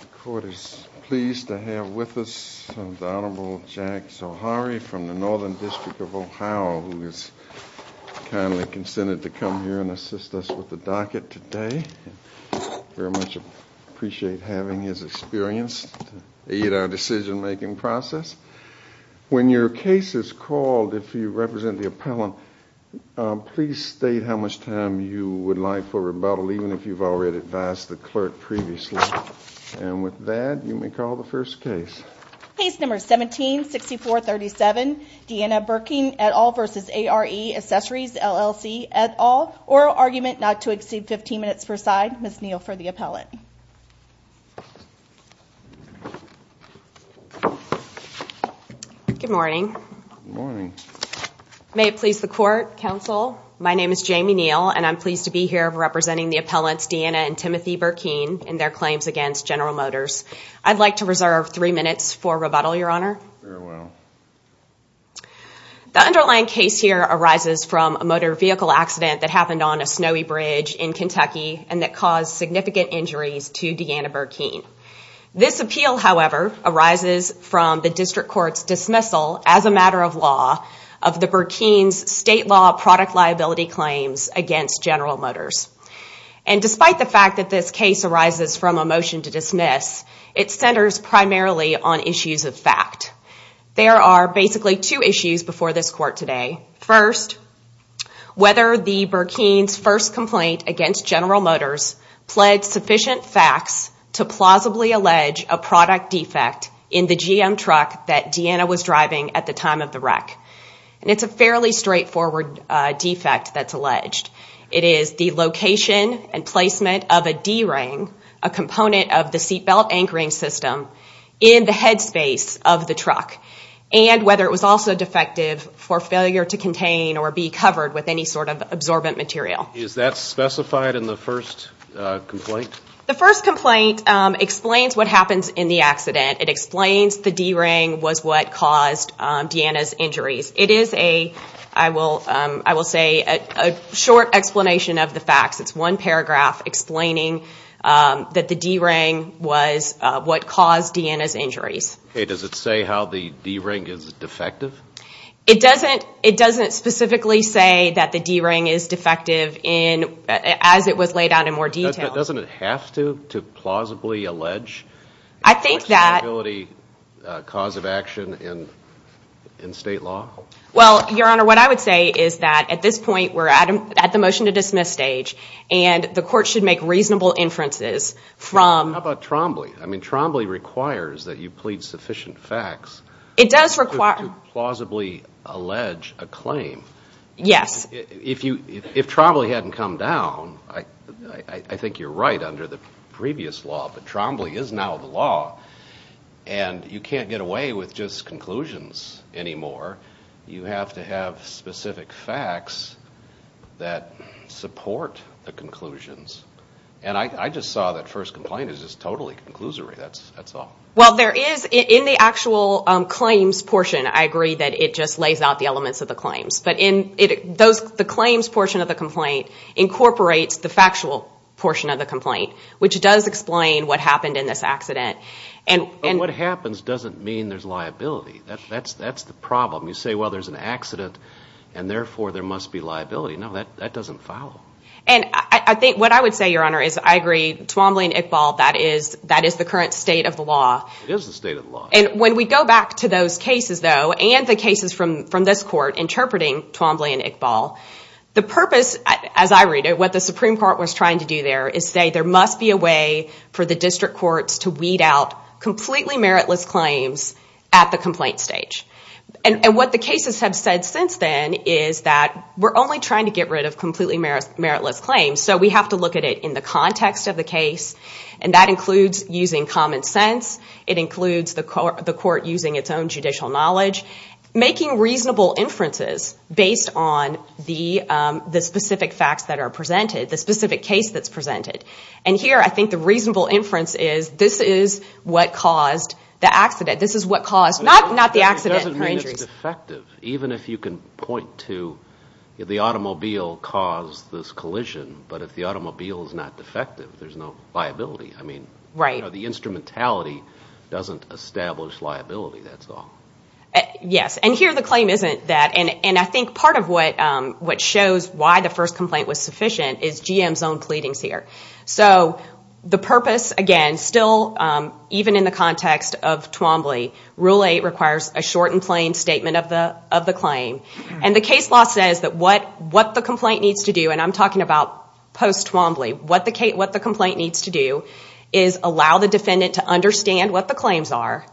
The Court is pleased to have with us the Honorable Jack Zoharie from the Northern District of Ohio, who has kindly consented to come here and assist us with the docket today. We very much appreciate having his experience to aid our decision-making process. When your case is called, if you represent the appellant, please state how much time you would like for rebuttal, even if you've already advised the clerk previously. And with that, you may call the first case. Case number 17-64-37, Deana Burkeen v. ARE Accessories LLC, oral argument not to exceed 15 minutes per side. Ms. Neal for the appellant. Good morning. Good morning. May it please the Court, Counsel, my name is Jamie Neal and I'm pleased to be here representing the appellants Deana and Timothy Burkeen in their claims against General Motors. I'd like to reserve three minutes for rebuttal, Your Honor. The underlying case here arises from a motor vehicle accident that happened on a snowy bridge in Kentucky and that caused significant injuries to Deana Burkeen. This appeal, however, arises from the district court's dismissal as a matter of law of the Burkeen's state law product liability claims against General Motors. And despite the fact that this case arises from a motion to dismiss, it centers primarily on issues of fact. There are basically two issues before this court today. First, whether the Burkeen's first complaint against General Motors pled sufficient facts to plausibly allege a product defect in the GM truck that Deana was driving at the time of the wreck. And it's a fairly straightforward defect that's alleged. It is the location and placement of a D-ring, a component of the seat belt anchoring system, in the headspace of the truck. And whether it was also defective for failure to contain or be covered with any sort of absorbent material. Is that specified in the first complaint? The first complaint explains what happens in the accident. It explains the D-ring was what caused Deana's injuries. It is a, I will say, a short explanation of the facts. It's one paragraph that the D-ring was what caused Deana's injuries. Okay, does it say how the D-ring is defective? It doesn't, it doesn't specifically say that the D-ring is defective in, as it was laid out in more detail. Doesn't it have to, to plausibly allege? I think that... a cause of action in state law? Well, Your Honor, what I would say is that at this point, we're at the motion to dismiss stage and the court should make reasonable inferences from... How about Trombley? I mean, Trombley requires that you plead sufficient facts. It does require... To plausibly allege a claim. Yes. If you, if Trombley hadn't come down, I think you're right under the previous law, but Trombley is now the law and you can't get away with just conclusions anymore. You have to have specific facts that support the conclusions. And I just saw that first complaint is just totally conclusory. That's, that's all. Well, there is, in the actual claims portion, I agree that it just lays out the elements of the claims. But in it, those, the claims portion of the complaint incorporates the factual portion of the complaint, which does explain what happened in this accident. And, and... What happens doesn't mean there's liability. That's, that's, that's the problem. You say, well, there's an accident and therefore there must be liability. No, that, that doesn't follow. And I, I think what I would say, Your Honor, is I agree, Trombley and Iqbal, that is, that is the current state of the law. It is the state of the law. And when we go back to those cases, though, and the cases from, from this court interpreting Trombley and Iqbal, the purpose, as I read it, what the Supreme Court was trying to do there is say there must be a way for the district courts to weed out completely meritless claims at the complaint stage. And, and what the cases have said since then is that we're only trying to get rid of completely meritless, meritless claims. So we have to look at it in the context of the case. And that includes using common sense. It includes the court, the court using its own judicial knowledge, making reasonable inferences based on the, the specific facts that are presented, the specific case that's presented. And here, I think the reasonable inference is this is what caused the accident. This is what caused, not, not the accident. It doesn't mean it's defective, even if you can point to the automobile caused this collision. But if the automobile is not defective, there's no liability. I mean, right, the instrumentality doesn't establish liability, that's all. Yes, and here the claim isn't that. And, and I think part of what, what shows why the first complaint was sufficient is GM's own pleadings here. So the purpose, again, still even in the context of Twombly, Rule 8 requires a short and plain statement of the, of the claim. And the case law says that what, what the complaint needs to do, and I'm talking about post-Twombly, what the case, what the complaint needs to do is allow the defendant to understand what the claims are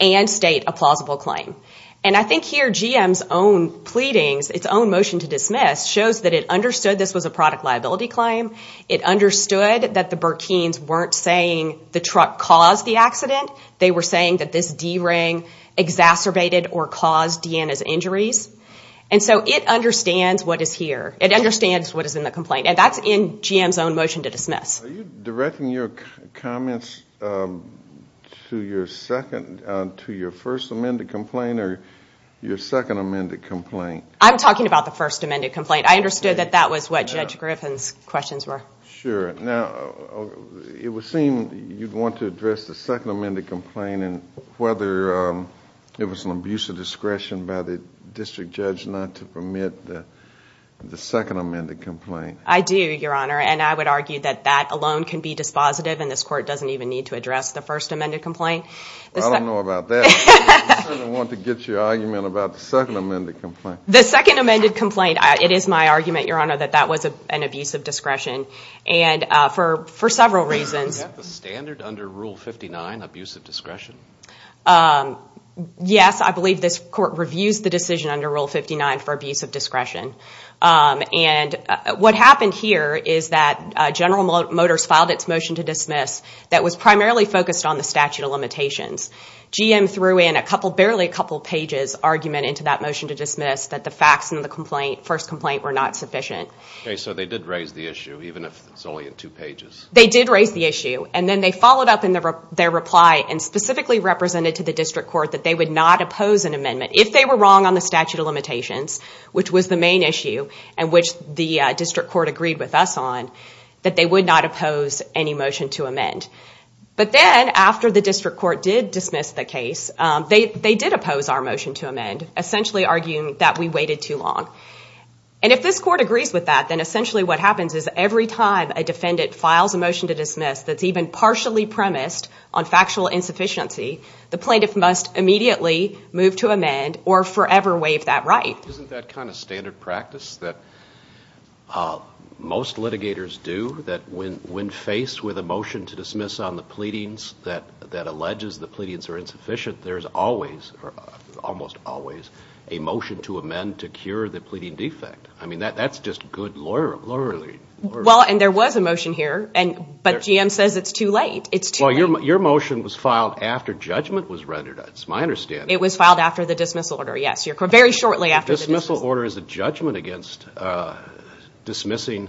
and state a plausible claim. And I think here GM's own pleadings, its own motion to dismiss, shows that it understood this was a product liability claim. It understood that the Burkines weren't saying the truck caused the accident. They were saying that this D-ring exacerbated or caused Deanna's injuries. And so it understands what is here. It understands what is in the complaint. And that's in GM's own motion to dismiss. Are you directing your comments to your second, to your first amended complaint or your second amended complaint? I'm talking about the first amended complaint. I understood that that was what Judge Griffin's questions were. Sure. Now it would seem you'd want to address the second amended complaint and whether it was an abuse of discretion by the district judge not to permit the second amended complaint. I do, Your Honor. And I would argue that that alone can be dispositive and this court doesn't even need to address the first amended complaint. I don't know about that. I want to get your argument about the second amended complaint. The second amended complaint. It is my argument, Your Honor, that that was an abuse of discretion and for several reasons. Is that the standard under Rule 59, abuse of discretion? Yes. I believe this court reviews the decision under Rule 59 for abuse of discretion. And what happened here is that General Motors filed its motion to dismiss that was primarily focused on the statute of limitations. GM threw in a couple, barely a couple pages argument into that motion to dismiss that the facts in the complaint, first complaint, were not sufficient. Okay. So they did raise the issue, even if it's only in two pages. They did raise the issue. And then they followed up in their reply and specifically represented to the district court that they would not oppose an amendment. If they were wrong on the statute of limitations, which was the main issue and which the district court agreed with us on, that they would not oppose any motion to amend. But then after the district court did dismiss the case, they did oppose our motion to amend, essentially arguing that we waited too long. And if this court agrees with that, then essentially what happens is every time a defendant files a motion to dismiss that's even partially premised on factual insufficiency, the plaintiff must immediately move to amend or forever waive that right. Isn't that kind of standard practice that most litigators do, that when faced with a motion to dismiss on the pleadings that alleges the pleadings are insufficient, there's always, almost always, a motion to amend to cure the pleading defect. I mean, that's just good lawyering. Well, and there was a motion here, but GM says it's too late. It's too late. Your motion was filed after judgment was rendered. That's my understanding. It was filed after the dismissal order, yes. Very shortly after the dismissal order. The dismissal order is a judgment against dismissing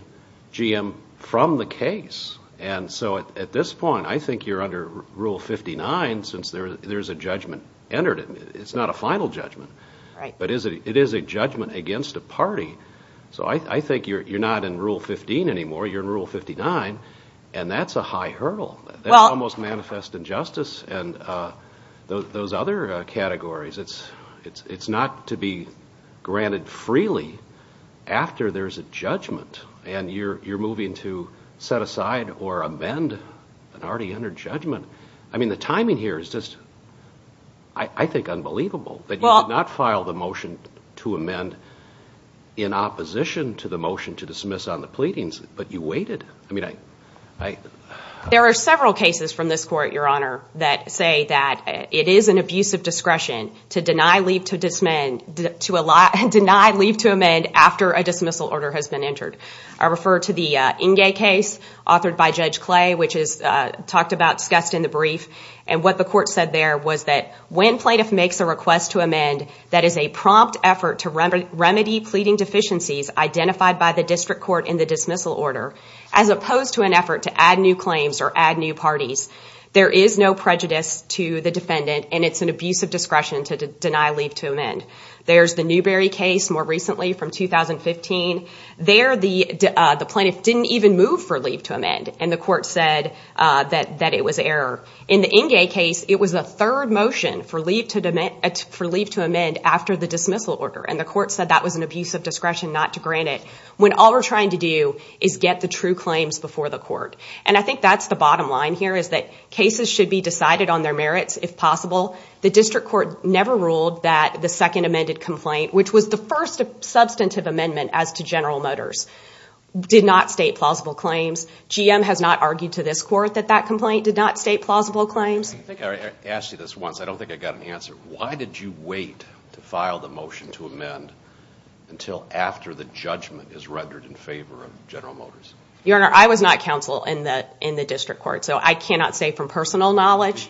GM from the case. And so at this point, I think you're under Rule 59, since there's a judgment entered. It's not a final judgment, but it is a judgment against a party. So I think you're not in Rule 15 anymore. You're in Rule 59, and that's a high hurdle. That's almost manifest injustice. And those other categories, it's not to be granted freely after there's a judgment, and you're moving to set aside or amend an already entered judgment. I mean, the timing here is just, I think, unbelievable that you did not file the motion to amend in opposition to the motion to dismiss on the pleadings, but you waited. I mean, I... There are several cases from this court, Your Honor, that say that it is an abusive discretion to deny leave to amend after a plea. And what the court said there was that when plaintiff makes a request to amend, that is a prompt effort to remedy pleading deficiencies identified by the district court in the dismissal order, as opposed to an effort to add new claims or add new parties. There is no prejudice to the defendant, and it's an abusive discretion to deny leave to amend. There's the Newberry case, more recently, from 2015. There, the plaintiff didn't even move for leave to amend, and the court said that it was error. In the Engay case, it was a third motion for leave to amend after the dismissal order, and the court said that was an abusive discretion not to grant it, when all we're trying to do is get the true claims before the court. And I think that's the bottom line here, is that cases should be decided on their merits, if possible. The district court never ruled that the second amended complaint, which was the first substantive amendment as to General Motors, did not state plausible claims. GM has not argued to this court that that complaint did not state plausible claims. I think I asked you this once. I don't think I got an answer. Why did you wait to file the motion to amend until after the judgment is rendered in favor of General Motors? Your Honor, I was not counsel in the district court, so I cannot say from personal knowledge.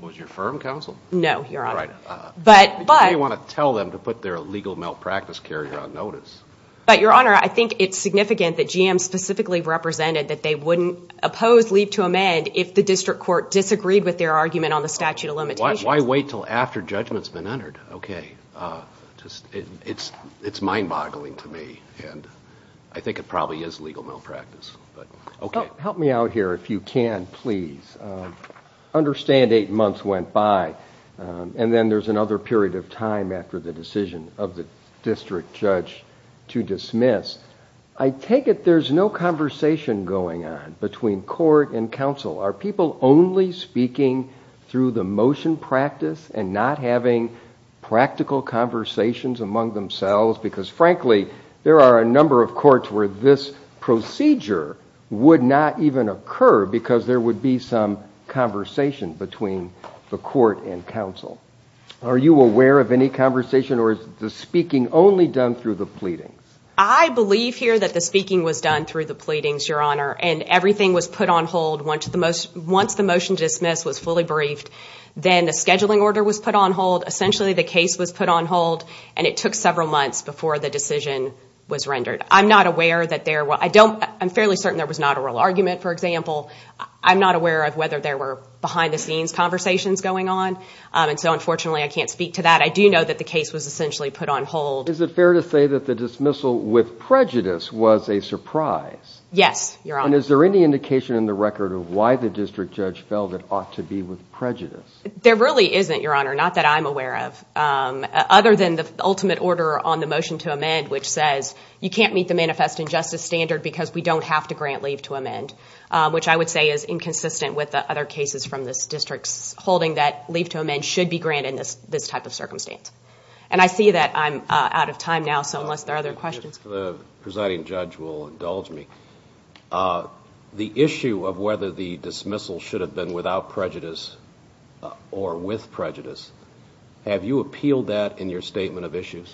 Was your firm counsel? No, Your Honor. But you may want to tell them to put their legal malpractice carrier on notice. But Your Honor, I think it's significant that GM specifically represented that they wouldn't oppose leave to amend if the district court disagreed with their argument on the statute of limitations. Why wait until after judgment's been entered? Okay. It's mind-boggling to me, and I think it probably is legal malpractice, but okay. Help me out here if you can, please. Understand eight months went by, and then there's another period of time after the decision of the district judge to dismiss. I take it there's no conversation going on between court and counsel. Are people only speaking through the motion practice and not having practical conversations among themselves? Because frankly, there are a number of courts where this procedure would not even occur because there would be some conversation between the court and counsel. Are you aware of any conversation, or is the speaking only done through the pleadings? I believe here that the speaking was done through the pleadings, Your Honor, and everything was put on hold once the motion to dismiss was fully briefed. Then the scheduling order was put on hold. Essentially, the case was put on hold, and it took several months before the decision was rendered. I'm fairly certain there was not a real argument, for example. I'm not aware of whether there were behind-the-scenes conversations going on, and so unfortunately, I can't speak to that. I do know that the case was essentially put on hold. Is it fair to say that the dismissal with prejudice was a surprise? Yes, Your Honor. Is there any indication in the record of why the district judge felt it ought to be with prejudice? There really isn't, Your Honor, not that I'm aware of, other than the ultimate order on the motion to amend, which says you can't meet the Manifest Injustice Standard because we don't have to grant leave to amend, which I would say is inconsistent with the other cases from this district's holding that leave to amend should be granted in this type of circumstance. I see that I'm out of time now, so unless there are other questions. If the presiding judge will indulge me, the issue of whether the dismissal should have been without prejudice or with prejudice, have you appealed that in your statement of issues?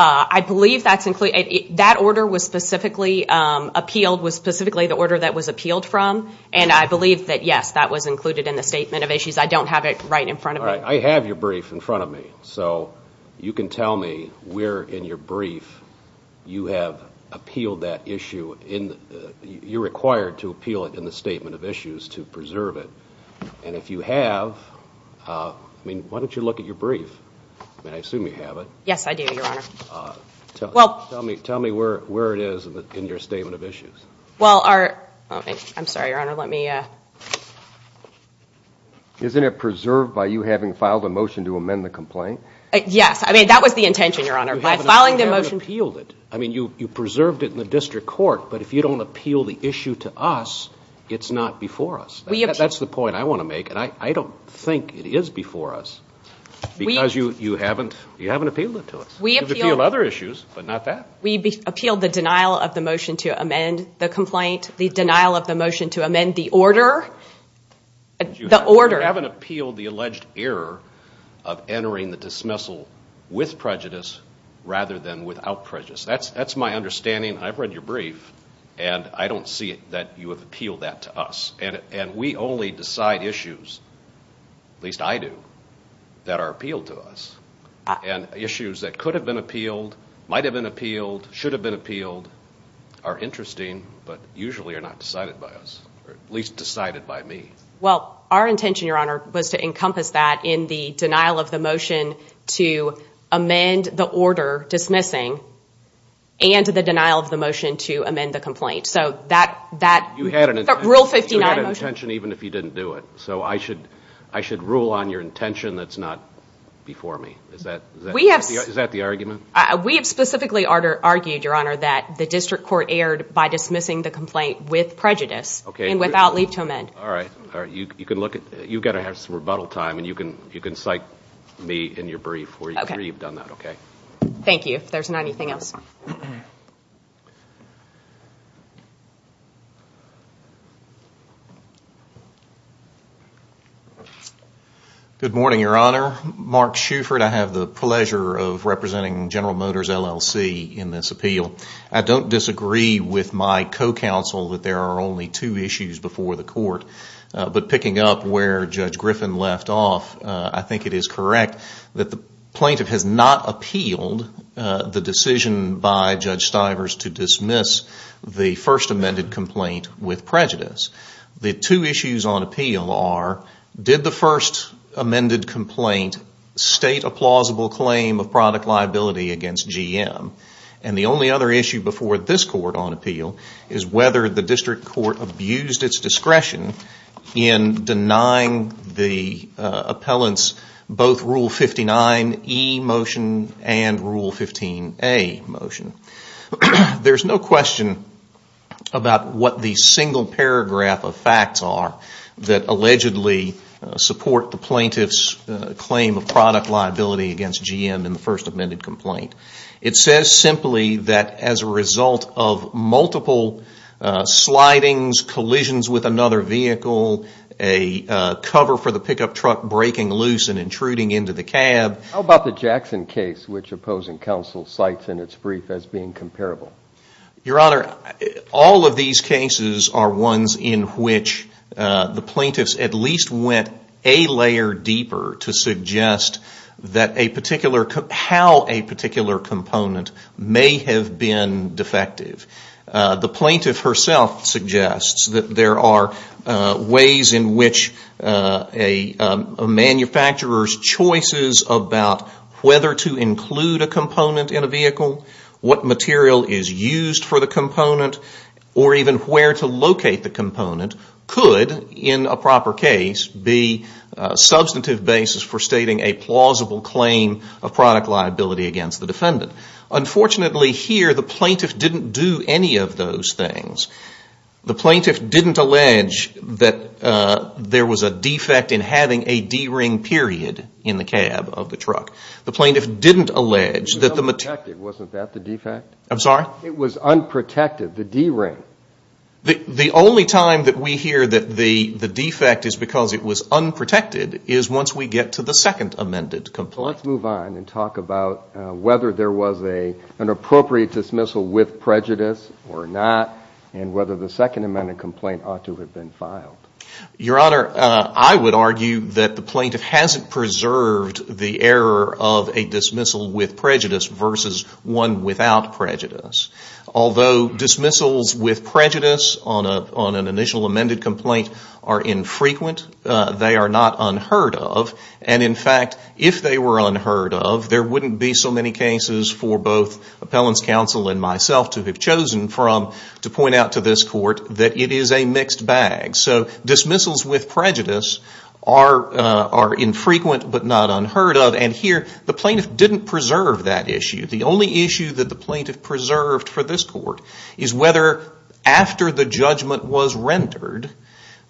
I believe that order was specifically appealed, was specifically the order that was appealed from, and I believe that, yes, that was included in the statement of issues. I don't have it right in front of me. I have your brief in front of me, so you can tell me where in your brief you have appealed that issue. You're required to appeal it in the statement of issues to preserve it, and if you have, I mean, why don't you look at your brief? I mean, I assume you have it. Yes, I do, Your Honor. Tell me where it is in your statement of issues. Well, I'm sorry, Your Honor, let me... Isn't it preserved by you having filed a motion to amend the complaint? Yes, I mean, that was the intention, Your Honor. You haven't appealed it. I mean, you preserved it in the district court, but if you don't appeal the issue to us, it's not before us. That's the point I want to make, and I don't think it is before us, because you haven't appealed it to us. You could appeal other issues, but not that. We appealed the denial of the motion to amend the complaint, the denial of the motion to amend the order. The order. You haven't appealed the alleged error of entering the dismissal with prejudice rather than without prejudice. That's my understanding. I've read your brief, and I don't see that you have appealed that to us. And we only decide issues, at least I do, that are appealed to us. And issues that could have been appealed, might have been appealed, should have been appealed are interesting, but usually are not decided by us, or at least decided by me. Well, our intention, Your Honor, was to encompass that in the denial of the motion to amend the order dismissing, and the denial of the motion to amend the complaint. So that rule 59 motion. You had an intention even if you didn't do it. So I should rule on your intention that's not before me. Is that the argument? We have specifically argued, Your Honor, that the district court erred by dismissing the complaint with prejudice, and without leave to amend. All right. You can look at, you've got to have some rebuttal time, and you can cite me in your brief where you've done that, okay? Thank you. If there's not anything else. Good morning, Your Honor. Mark Shuford. I have the pleasure of representing General Motors LLC in this appeal. I don't disagree with my co-counsel that there are only two issues before the court. But picking up where Judge Griffin left off, I think it is correct that the plaintiff has not appealed the decision by Judge Stivers to dismiss the first amended complaint with prejudice. The two issues on appeal are, did the first amended complaint state a plausible claim of product liability against GM? And the only other issue before this court on appeal is whether the district court abused its discretion in denying the appellant's both Rule 59E motion and Rule 15A motion. There's no question about what the single paragraph of facts are that allegedly support the plaintiff's claim of product liability against GM in the first amended complaint. It says simply that as a result of multiple slidings, collisions with another vehicle, a cover for the pickup truck breaking loose and intruding into the cab. How about the Jackson case which opposing counsel cites in its brief as being comparable? Your Honor, all of these cases are ones in which the plaintiffs at least went a layer deeper to may have been defective. The plaintiff herself suggests that there are ways in which a manufacturer's choices about whether to include a component in a vehicle, what material is used for the component, or even where to locate the component could, in a proper case, be a substantive basis for Unfortunately, here, the plaintiff didn't do any of those things. The plaintiff didn't allege that there was a defect in having a D-ring period in the cab of the truck. The plaintiff didn't allege that the material… It was unprotected, wasn't that the defect? I'm sorry? It was unprotected, the D-ring. The only time that we hear that the defect is because it was unprotected is once we get to the second amended complaint. Let's move on and talk about whether there was an appropriate dismissal with prejudice or not, and whether the second amended complaint ought to have been filed. Your Honor, I would argue that the plaintiff hasn't preserved the error of a dismissal with prejudice versus one without prejudice. Although dismissals with prejudice on an initial amended complaint are infrequent, they are not unheard of. In fact, if they were unheard of, there wouldn't be so many cases for both appellants counsel and myself to have chosen from to point out to this court that it is a mixed bag. So dismissals with prejudice are infrequent but not unheard of. Here, the plaintiff didn't preserve that issue. The only issue that the plaintiff preserved for this court is whether after the judgment was rendered,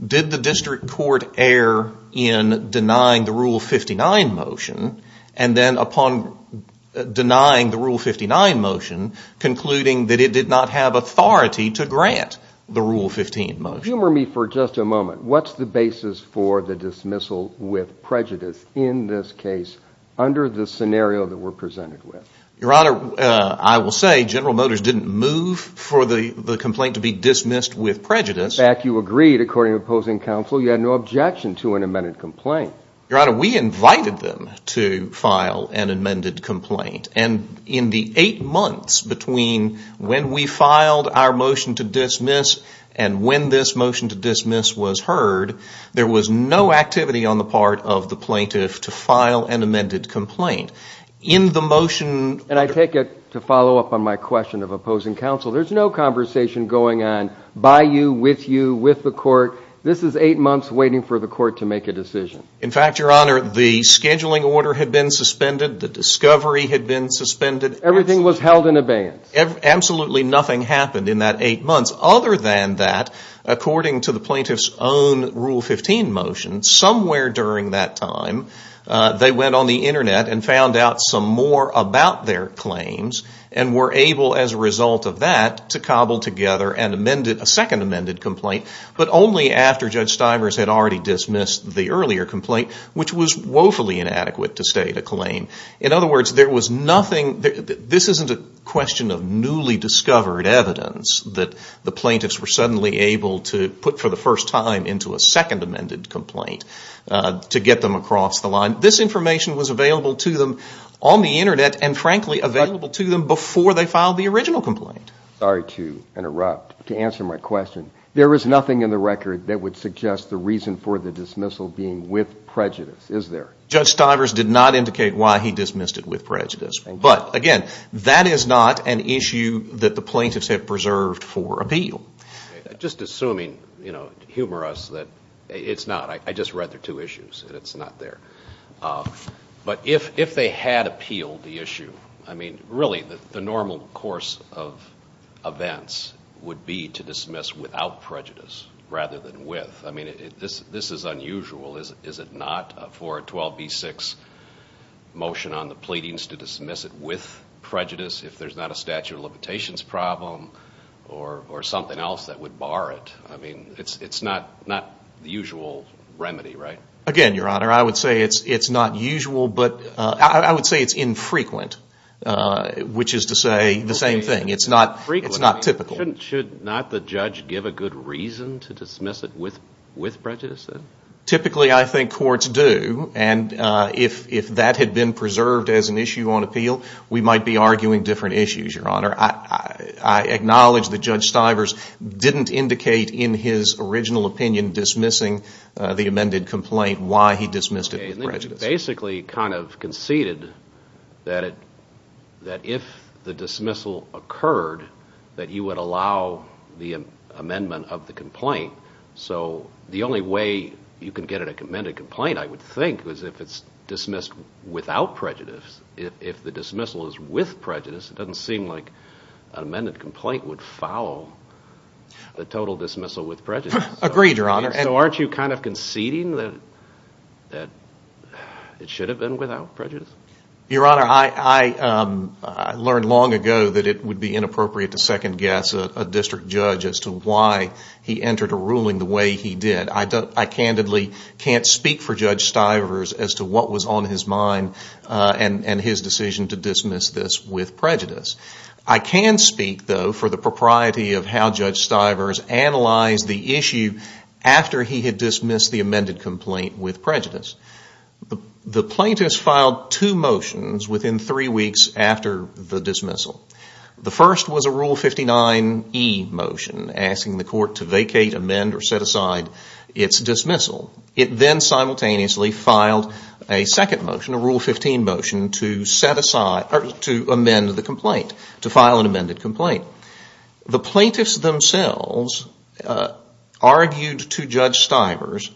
did the district court err in denying the Rule 59 motion, and then upon denying the Rule 59 motion, concluding that it did not have authority to grant the Rule 15 motion. Humor me for just a moment. What's the basis for the dismissal with prejudice in this case under the scenario that we're presented with? Your Honor, I will say General Motors didn't move for the complaint to be dismissed with prejudice. In fact, you agreed, according to opposing counsel, you had no objection to an amended complaint. Your Honor, we invited them to file an amended complaint. And in the eight months between when we filed our motion to dismiss and when this motion to dismiss was heard, there was no activity on the part of the plaintiff to file an amended complaint. In the motion... And I take it, to follow up on my question of opposing counsel, there's no conversation going on by you, with you, with the court. This is eight months waiting for the court to make a decision. In fact, Your Honor, the scheduling order had been suspended. The discovery had been suspended. Everything was held in abeyance. Absolutely nothing happened in that eight months. Other than that, according to the plaintiff's own Rule 15 motion, somewhere during that time, they went on the Internet and found out some more about their claims and were able, as a result of that, to cobble together a second amended complaint, but only after Judge Stivers had already dismissed the earlier complaint, which was woefully inadequate to state a claim. In other words, there was nothing... This isn't a question of newly discovered evidence that the plaintiffs were suddenly to put for the first time into a second amended complaint to get them across the line. This information was available to them on the Internet and, frankly, available to them before they filed the original complaint. Sorry to interrupt. To answer my question, there is nothing in the record that would suggest the reason for the dismissal being with prejudice, is there? Judge Stivers did not indicate why he dismissed it with prejudice. But, again, that is not an issue that the plaintiffs have preserved for appeal. Just assuming, humor us, that it's not. I just read their two issues and it's not there. But if they had appealed the issue, I mean, really, the normal course of events would be to dismiss without prejudice rather than with. I mean, this is unusual. Is it not for a 12b-6 motion on the pleadings to dismiss it with prejudice if there's not a statute of limitations problem or something else that would bar it? I mean, it's not the usual remedy, right? Again, Your Honor, I would say it's not usual. But I would say it's infrequent, which is to say the same thing. It's not typical. Should not the judge give a good reason to dismiss it with prejudice, then? Typically, I think courts do. And if that had been preserved as an issue on appeal, we might be arguing different issues. I acknowledge that Judge Stivers didn't indicate in his original opinion dismissing the amended complaint, why he dismissed it with prejudice. Basically, kind of conceded that if the dismissal occurred, that you would allow the amendment of the complaint. So the only way you can get an amended complaint, I would think, is if it's dismissed without prejudice. If the dismissal is with prejudice, it doesn't seem like an amended complaint would foul the total dismissal with prejudice. Agreed, Your Honor. So aren't you kind of conceding that it should have been without prejudice? Your Honor, I learned long ago that it would be inappropriate to second-guess a district judge as to why he entered a ruling the way he did. I candidly can't speak for Judge Stivers as to what was on his mind. And his decision to dismiss this with prejudice. I can speak, though, for the propriety of how Judge Stivers analyzed the issue after he had dismissed the amended complaint with prejudice. The plaintiffs filed two motions within three weeks after the dismissal. The first was a Rule 59e motion, asking the court to vacate, amend, or set aside its dismissal. It then simultaneously filed a second motion, a Rule 15 motion, to amend the complaint, to file an amended complaint. The plaintiffs themselves argued to Judge Stivers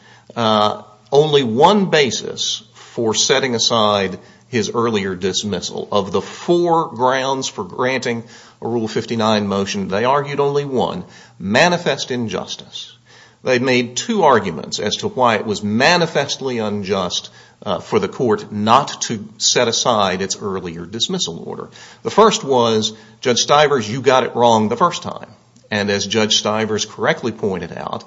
only one basis for setting aside his earlier dismissal. Of the four grounds for granting a Rule 59 motion, they argued only one, manifest injustice. They made two arguments as to why it was manifestly unjust for the court not to set aside its earlier dismissal order. The first was, Judge Stivers, you got it wrong the first time. And as Judge Stivers correctly pointed out,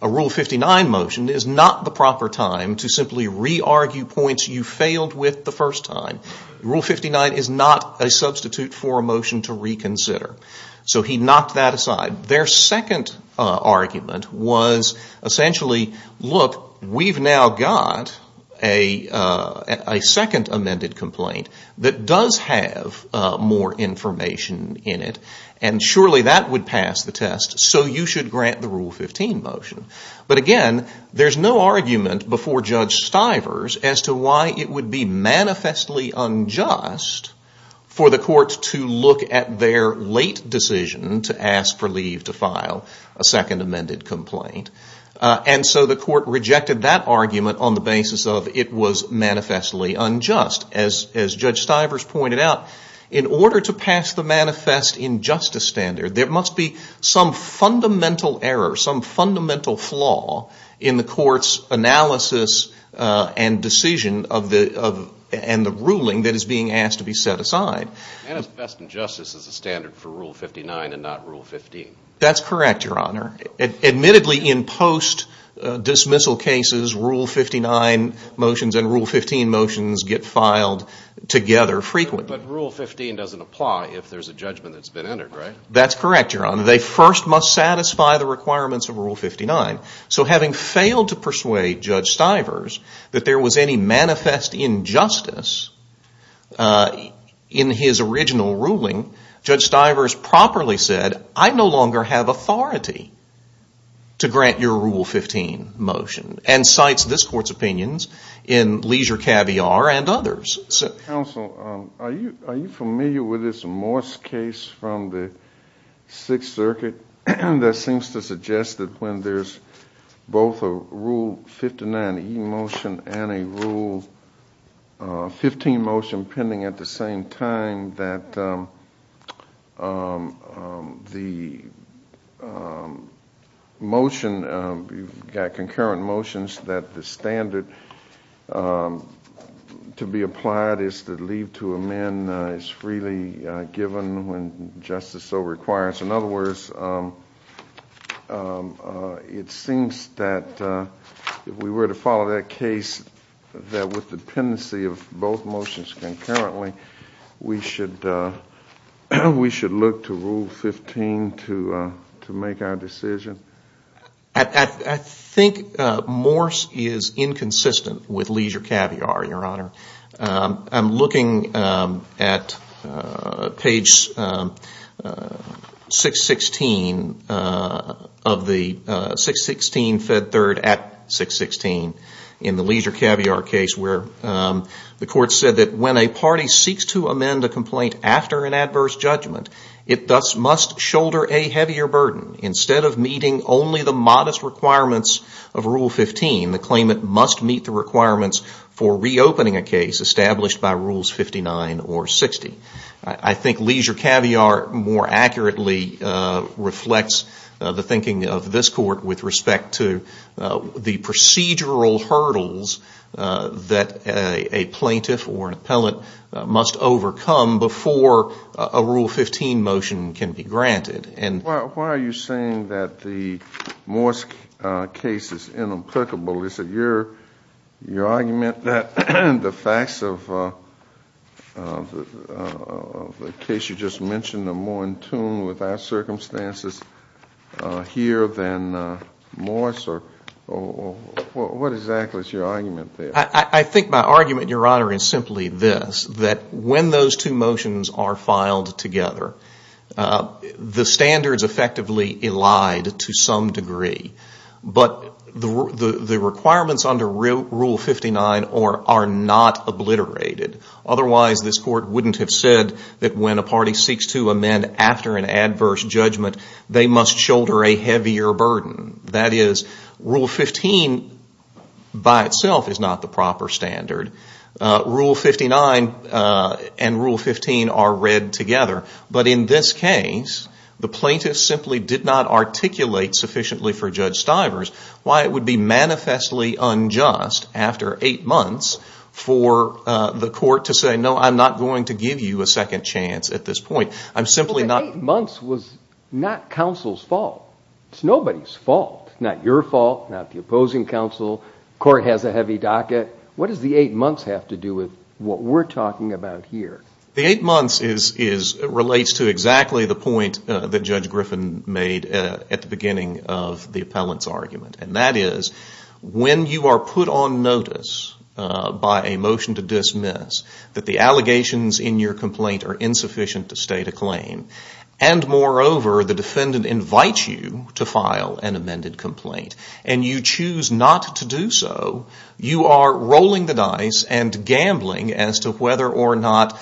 a Rule 59 motion is not the proper time to simply re-argue points you failed with the first time. Rule 59 is not a substitute for a motion to reconsider. So he knocked that aside. Their second argument was essentially, look, we've now got a second amended complaint that does have more information in it, and surely that would pass the test, so you should grant the Rule 15 motion. But again, there's no argument before Judge Stivers as to why it would be manifestly unjust for the court to look at their late decision to ask for leave to file a second amended complaint. And so the court rejected that argument on the basis of it was manifestly unjust. As Judge Stivers pointed out, in order to pass the manifest injustice standard, there must be some fundamental error, some fundamental flaw in the court's analysis and decision of the, and the ruling that is being asked to be set aside. Manifest injustice is a standard for Rule 59 and not Rule 15. That's correct, Your Honor. Admittedly, in post-dismissal cases, Rule 59 motions and Rule 15 motions get filed together frequently. But Rule 15 doesn't apply if there's a judgment that's been entered, right? That's correct, Your Honor. They first must satisfy the requirements of Rule 59. So having failed to persuade Judge Stivers that there was any manifest injustice in his original ruling, Judge Stivers properly said, I no longer have authority to grant your Rule 15 motion. And cites this court's opinions in Leisure Caviar and others. Counsel, are you familiar with this Morse case from the Sixth Circuit that seems to both a Rule 59 e-motion and a Rule 15 motion pending at the same time that the motion, you've got concurrent motions that the standard to be applied is to leave to amend is freely given when justice so requires. In other words, it seems that if we were to follow that case, that with dependency of both motions concurrently, we should look to Rule 15 to make our decision. I think Morse is inconsistent with Leisure Caviar, Your Honor. I'm looking at page 616 of the 616 fed third at 616 in the Leisure Caviar case where the court said that when a party seeks to amend a complaint after an adverse judgment, it thus must shoulder a heavier burden. Instead of meeting only the modest requirements of Rule 15, the claimant must meet the requirements for reopening a case established by Rules 59 or 60. I think Leisure Caviar more accurately reflects the thinking of this court with respect to the procedural hurdles that a plaintiff or an appellant must overcome before a Rule 15 motion can be granted. Why are you saying that the Morse case is inapplicable? Is it your argument that the facts of the case you just mentioned are more in tune with our circumstances here than Morse? What exactly is your argument there? I think my argument, Your Honor, is simply this, that when those two motions are filed together, the standards effectively elide to some degree. But the requirements under Rule 59 are not obliterated. Otherwise, this court wouldn't have said that when a party seeks to amend after an adverse judgment, they must shoulder a heavier burden. That is, Rule 15 by itself is not the proper standard. Rule 59 and Rule 15 are read together. But in this case, the plaintiff simply did not articulate sufficiently for Judge Stivers why it would be manifestly unjust, after eight months, for the court to say, no, I'm not going to give you a second chance at this point. I'm simply not... But eight months was not counsel's fault. It's nobody's fault. Not your fault. Not the opposing counsel. The court has a heavy docket. What does the eight months have to do with what we're talking about here? The eight months relates to exactly the point that Judge Griffin made at the beginning of the appellant's argument. And that is, when you are put on notice by a motion to dismiss, that the allegations in your complaint are insufficient to state a claim, and moreover, the defendant invites you to file an amended complaint, and you choose not to do so, you are rolling the dice and gambling as to whether or not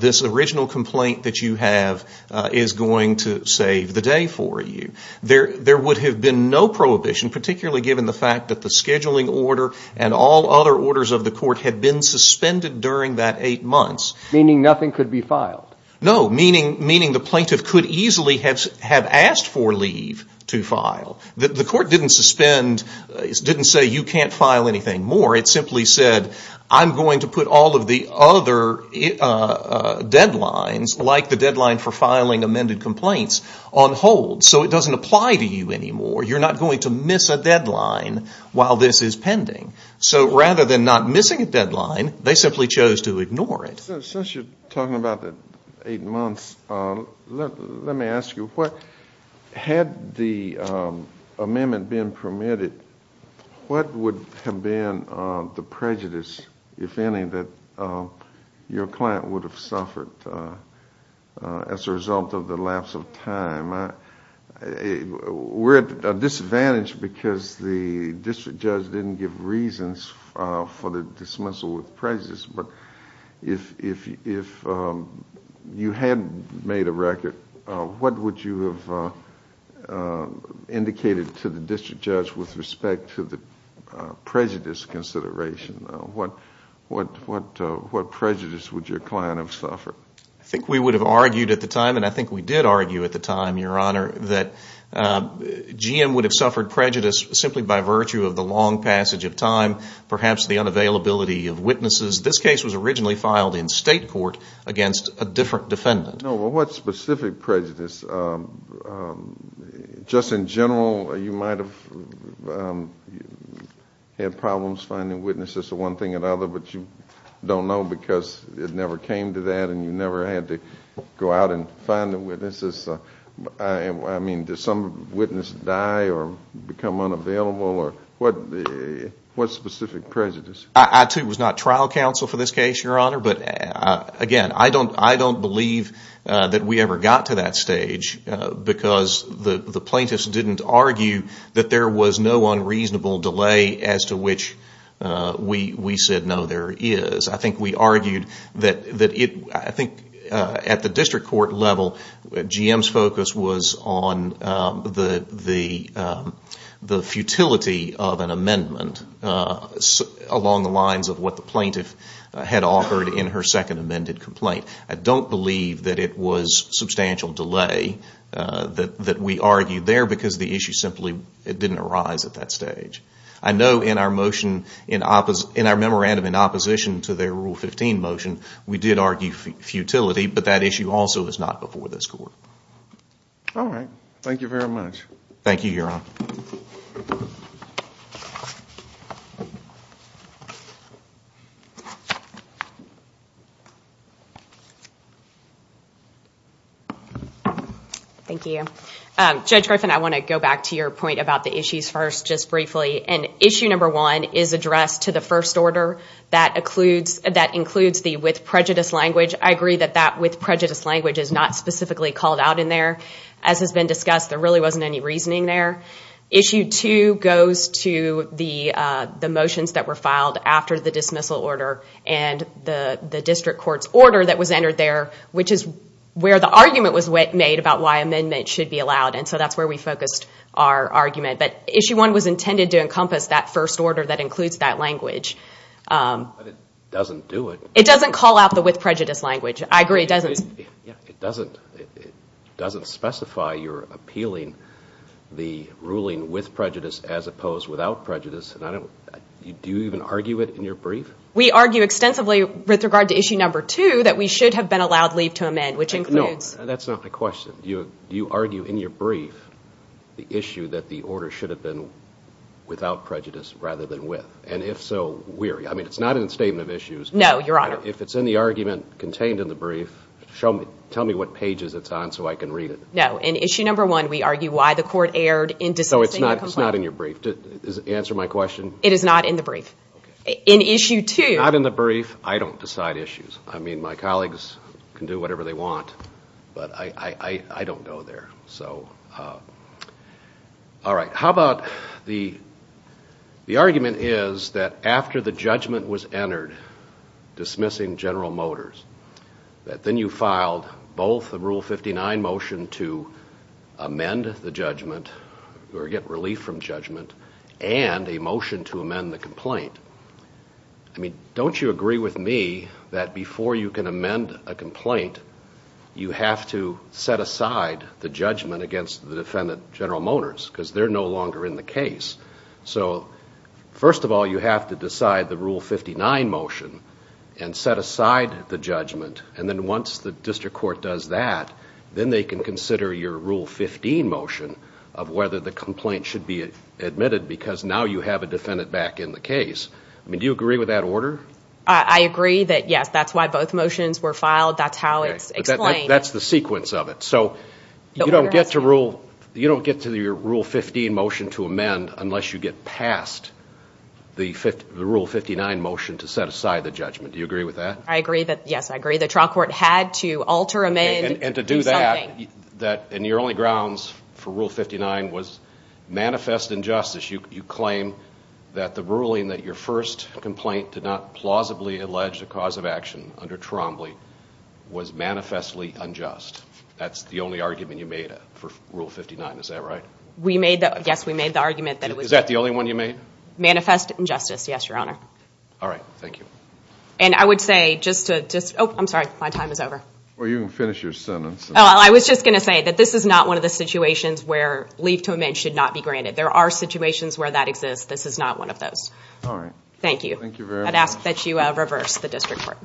this original complaint that you have is going to save the day for you. There would have been no prohibition, particularly given the fact that the scheduling order and all other orders of the court had been suspended during that eight months. Meaning nothing could be filed. No, meaning the plaintiff could easily have asked for leave to file. The court didn't suspend, didn't say you can't file anything more. It simply said, I'm going to put all of the other deadlines, like the deadline for filing amended complaints, on hold. So it doesn't apply to you anymore. You're not going to miss a deadline while this is pending. So rather than not missing a deadline, they simply chose to ignore it. Since you're talking about the eight months, let me ask you, had the amendment been permitted, what would have been the prejudice, if any, that your client would have suffered as a result of the lapse of time? We're at a disadvantage because the district judge didn't give reasons for the dismissal with prejudice. But if you had made a record, what would you have indicated to the district judge with respect to the prejudice consideration? What prejudice would your client have suffered? I think we would have argued at the time, and I think we did argue at the time, Your Honor, that GM would have suffered prejudice simply by virtue of the long passage of time, perhaps the unavailability of witnesses. This case was originally filed in state court against a different defendant. No, but what specific prejudice? Just in general, you might have had problems finding witnesses to one thing or another, but you don't know because it never came to that and you never had to go out and find the witnesses. I mean, did some witness die or become unavailable? What specific prejudice? I too was not trial counsel for this case, Your Honor, but again, I don't believe that we ever got to that stage because the plaintiffs didn't argue that there was no unreasonable delay as to which we said, no, there is. I think we argued that at the district court level, GM's focus was on the futility of an amendment along the lines of what the plaintiff had offered in her second amended complaint. I don't believe that it was substantial delay that we argued there because the issue simply didn't arise at that stage. I know in our memorandum in opposition to their Rule 15 motion, we did argue futility, but that issue also is not before this court. All right. Thank you very much. Thank you, Your Honor. Thank you. Judge Griffin, I want to go back to your point about the issues first. And issue number one is addressed to the first order that includes the with prejudice language. I agree that that with prejudice language is not specifically called out in there. As has been discussed, there really wasn't any reasoning there. Issue two goes to the motions that were filed after the dismissal order and the district court's order that was entered there, which is where the argument was made about why amendment should be allowed. So that's where we focused our argument. Issue one was intended to encompass that first order that includes that language. But it doesn't do it. It doesn't call out the with prejudice language. I agree. It doesn't. It doesn't specify you're appealing the ruling with prejudice as opposed without prejudice. Do you even argue it in your brief? We argue extensively with regard to issue number two that we should have been allowed leave to amend, which includes... No, that's not my question. Do you argue in your brief the issue that the order should have been without prejudice rather than with? And if so, where? I mean, it's not in the statement of issues. No, Your Honor. If it's in the argument contained in the brief, tell me what pages it's on so I can read it. No. In issue number one, we argue why the court erred in dismissing the complaint. It's not in your brief. Answer my question. It is not in the brief. In issue two... Not in the brief. I don't decide issues. My colleagues can do whatever they want, but I don't go there. All right. How about the argument is that after the judgment was entered dismissing General Motors, that then you filed both a Rule 59 motion to amend the judgment or get relief from judgment and a motion to amend the complaint. I mean, don't you agree with me that before you can amend a complaint, you have to set aside the judgment against the defendant, General Motors, because they're no longer in the case. So first of all, you have to decide the Rule 59 motion and set aside the judgment. And then once the district court does that, then they can consider your Rule 15 motion of whether the complaint should be admitted because now you have a defendant back in the case. Do you agree with that order? I agree that, yes, that's why both motions were filed. That's how it's explained. That's the sequence of it. So you don't get to your Rule 15 motion to amend unless you get past the Rule 59 motion to set aside the judgment. Do you agree with that? I agree. Yes, I agree. The trial court had to alter amend. And to do that, and your only grounds for Rule 59 was manifest injustice. You claim that the ruling that your first complaint did not plausibly allege the cause of action under Trombley was manifestly unjust. That's the only argument you made for Rule 59, is that right? Yes, we made the argument that it was... Is that the only one you made? Manifest injustice, yes, Your Honor. All right, thank you. And I would say just to... Oh, I'm sorry, my time is over. Well, you can finish your sentence. Oh, I was just going to say that this is not one of the situations where leave to amend should not be granted. There are situations where that exists. This is not one of those. All right. Thank you. Thank you very much. I'd ask that you reverse the district court.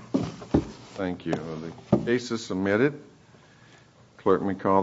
Are the cases submitted? Clerk, may call the...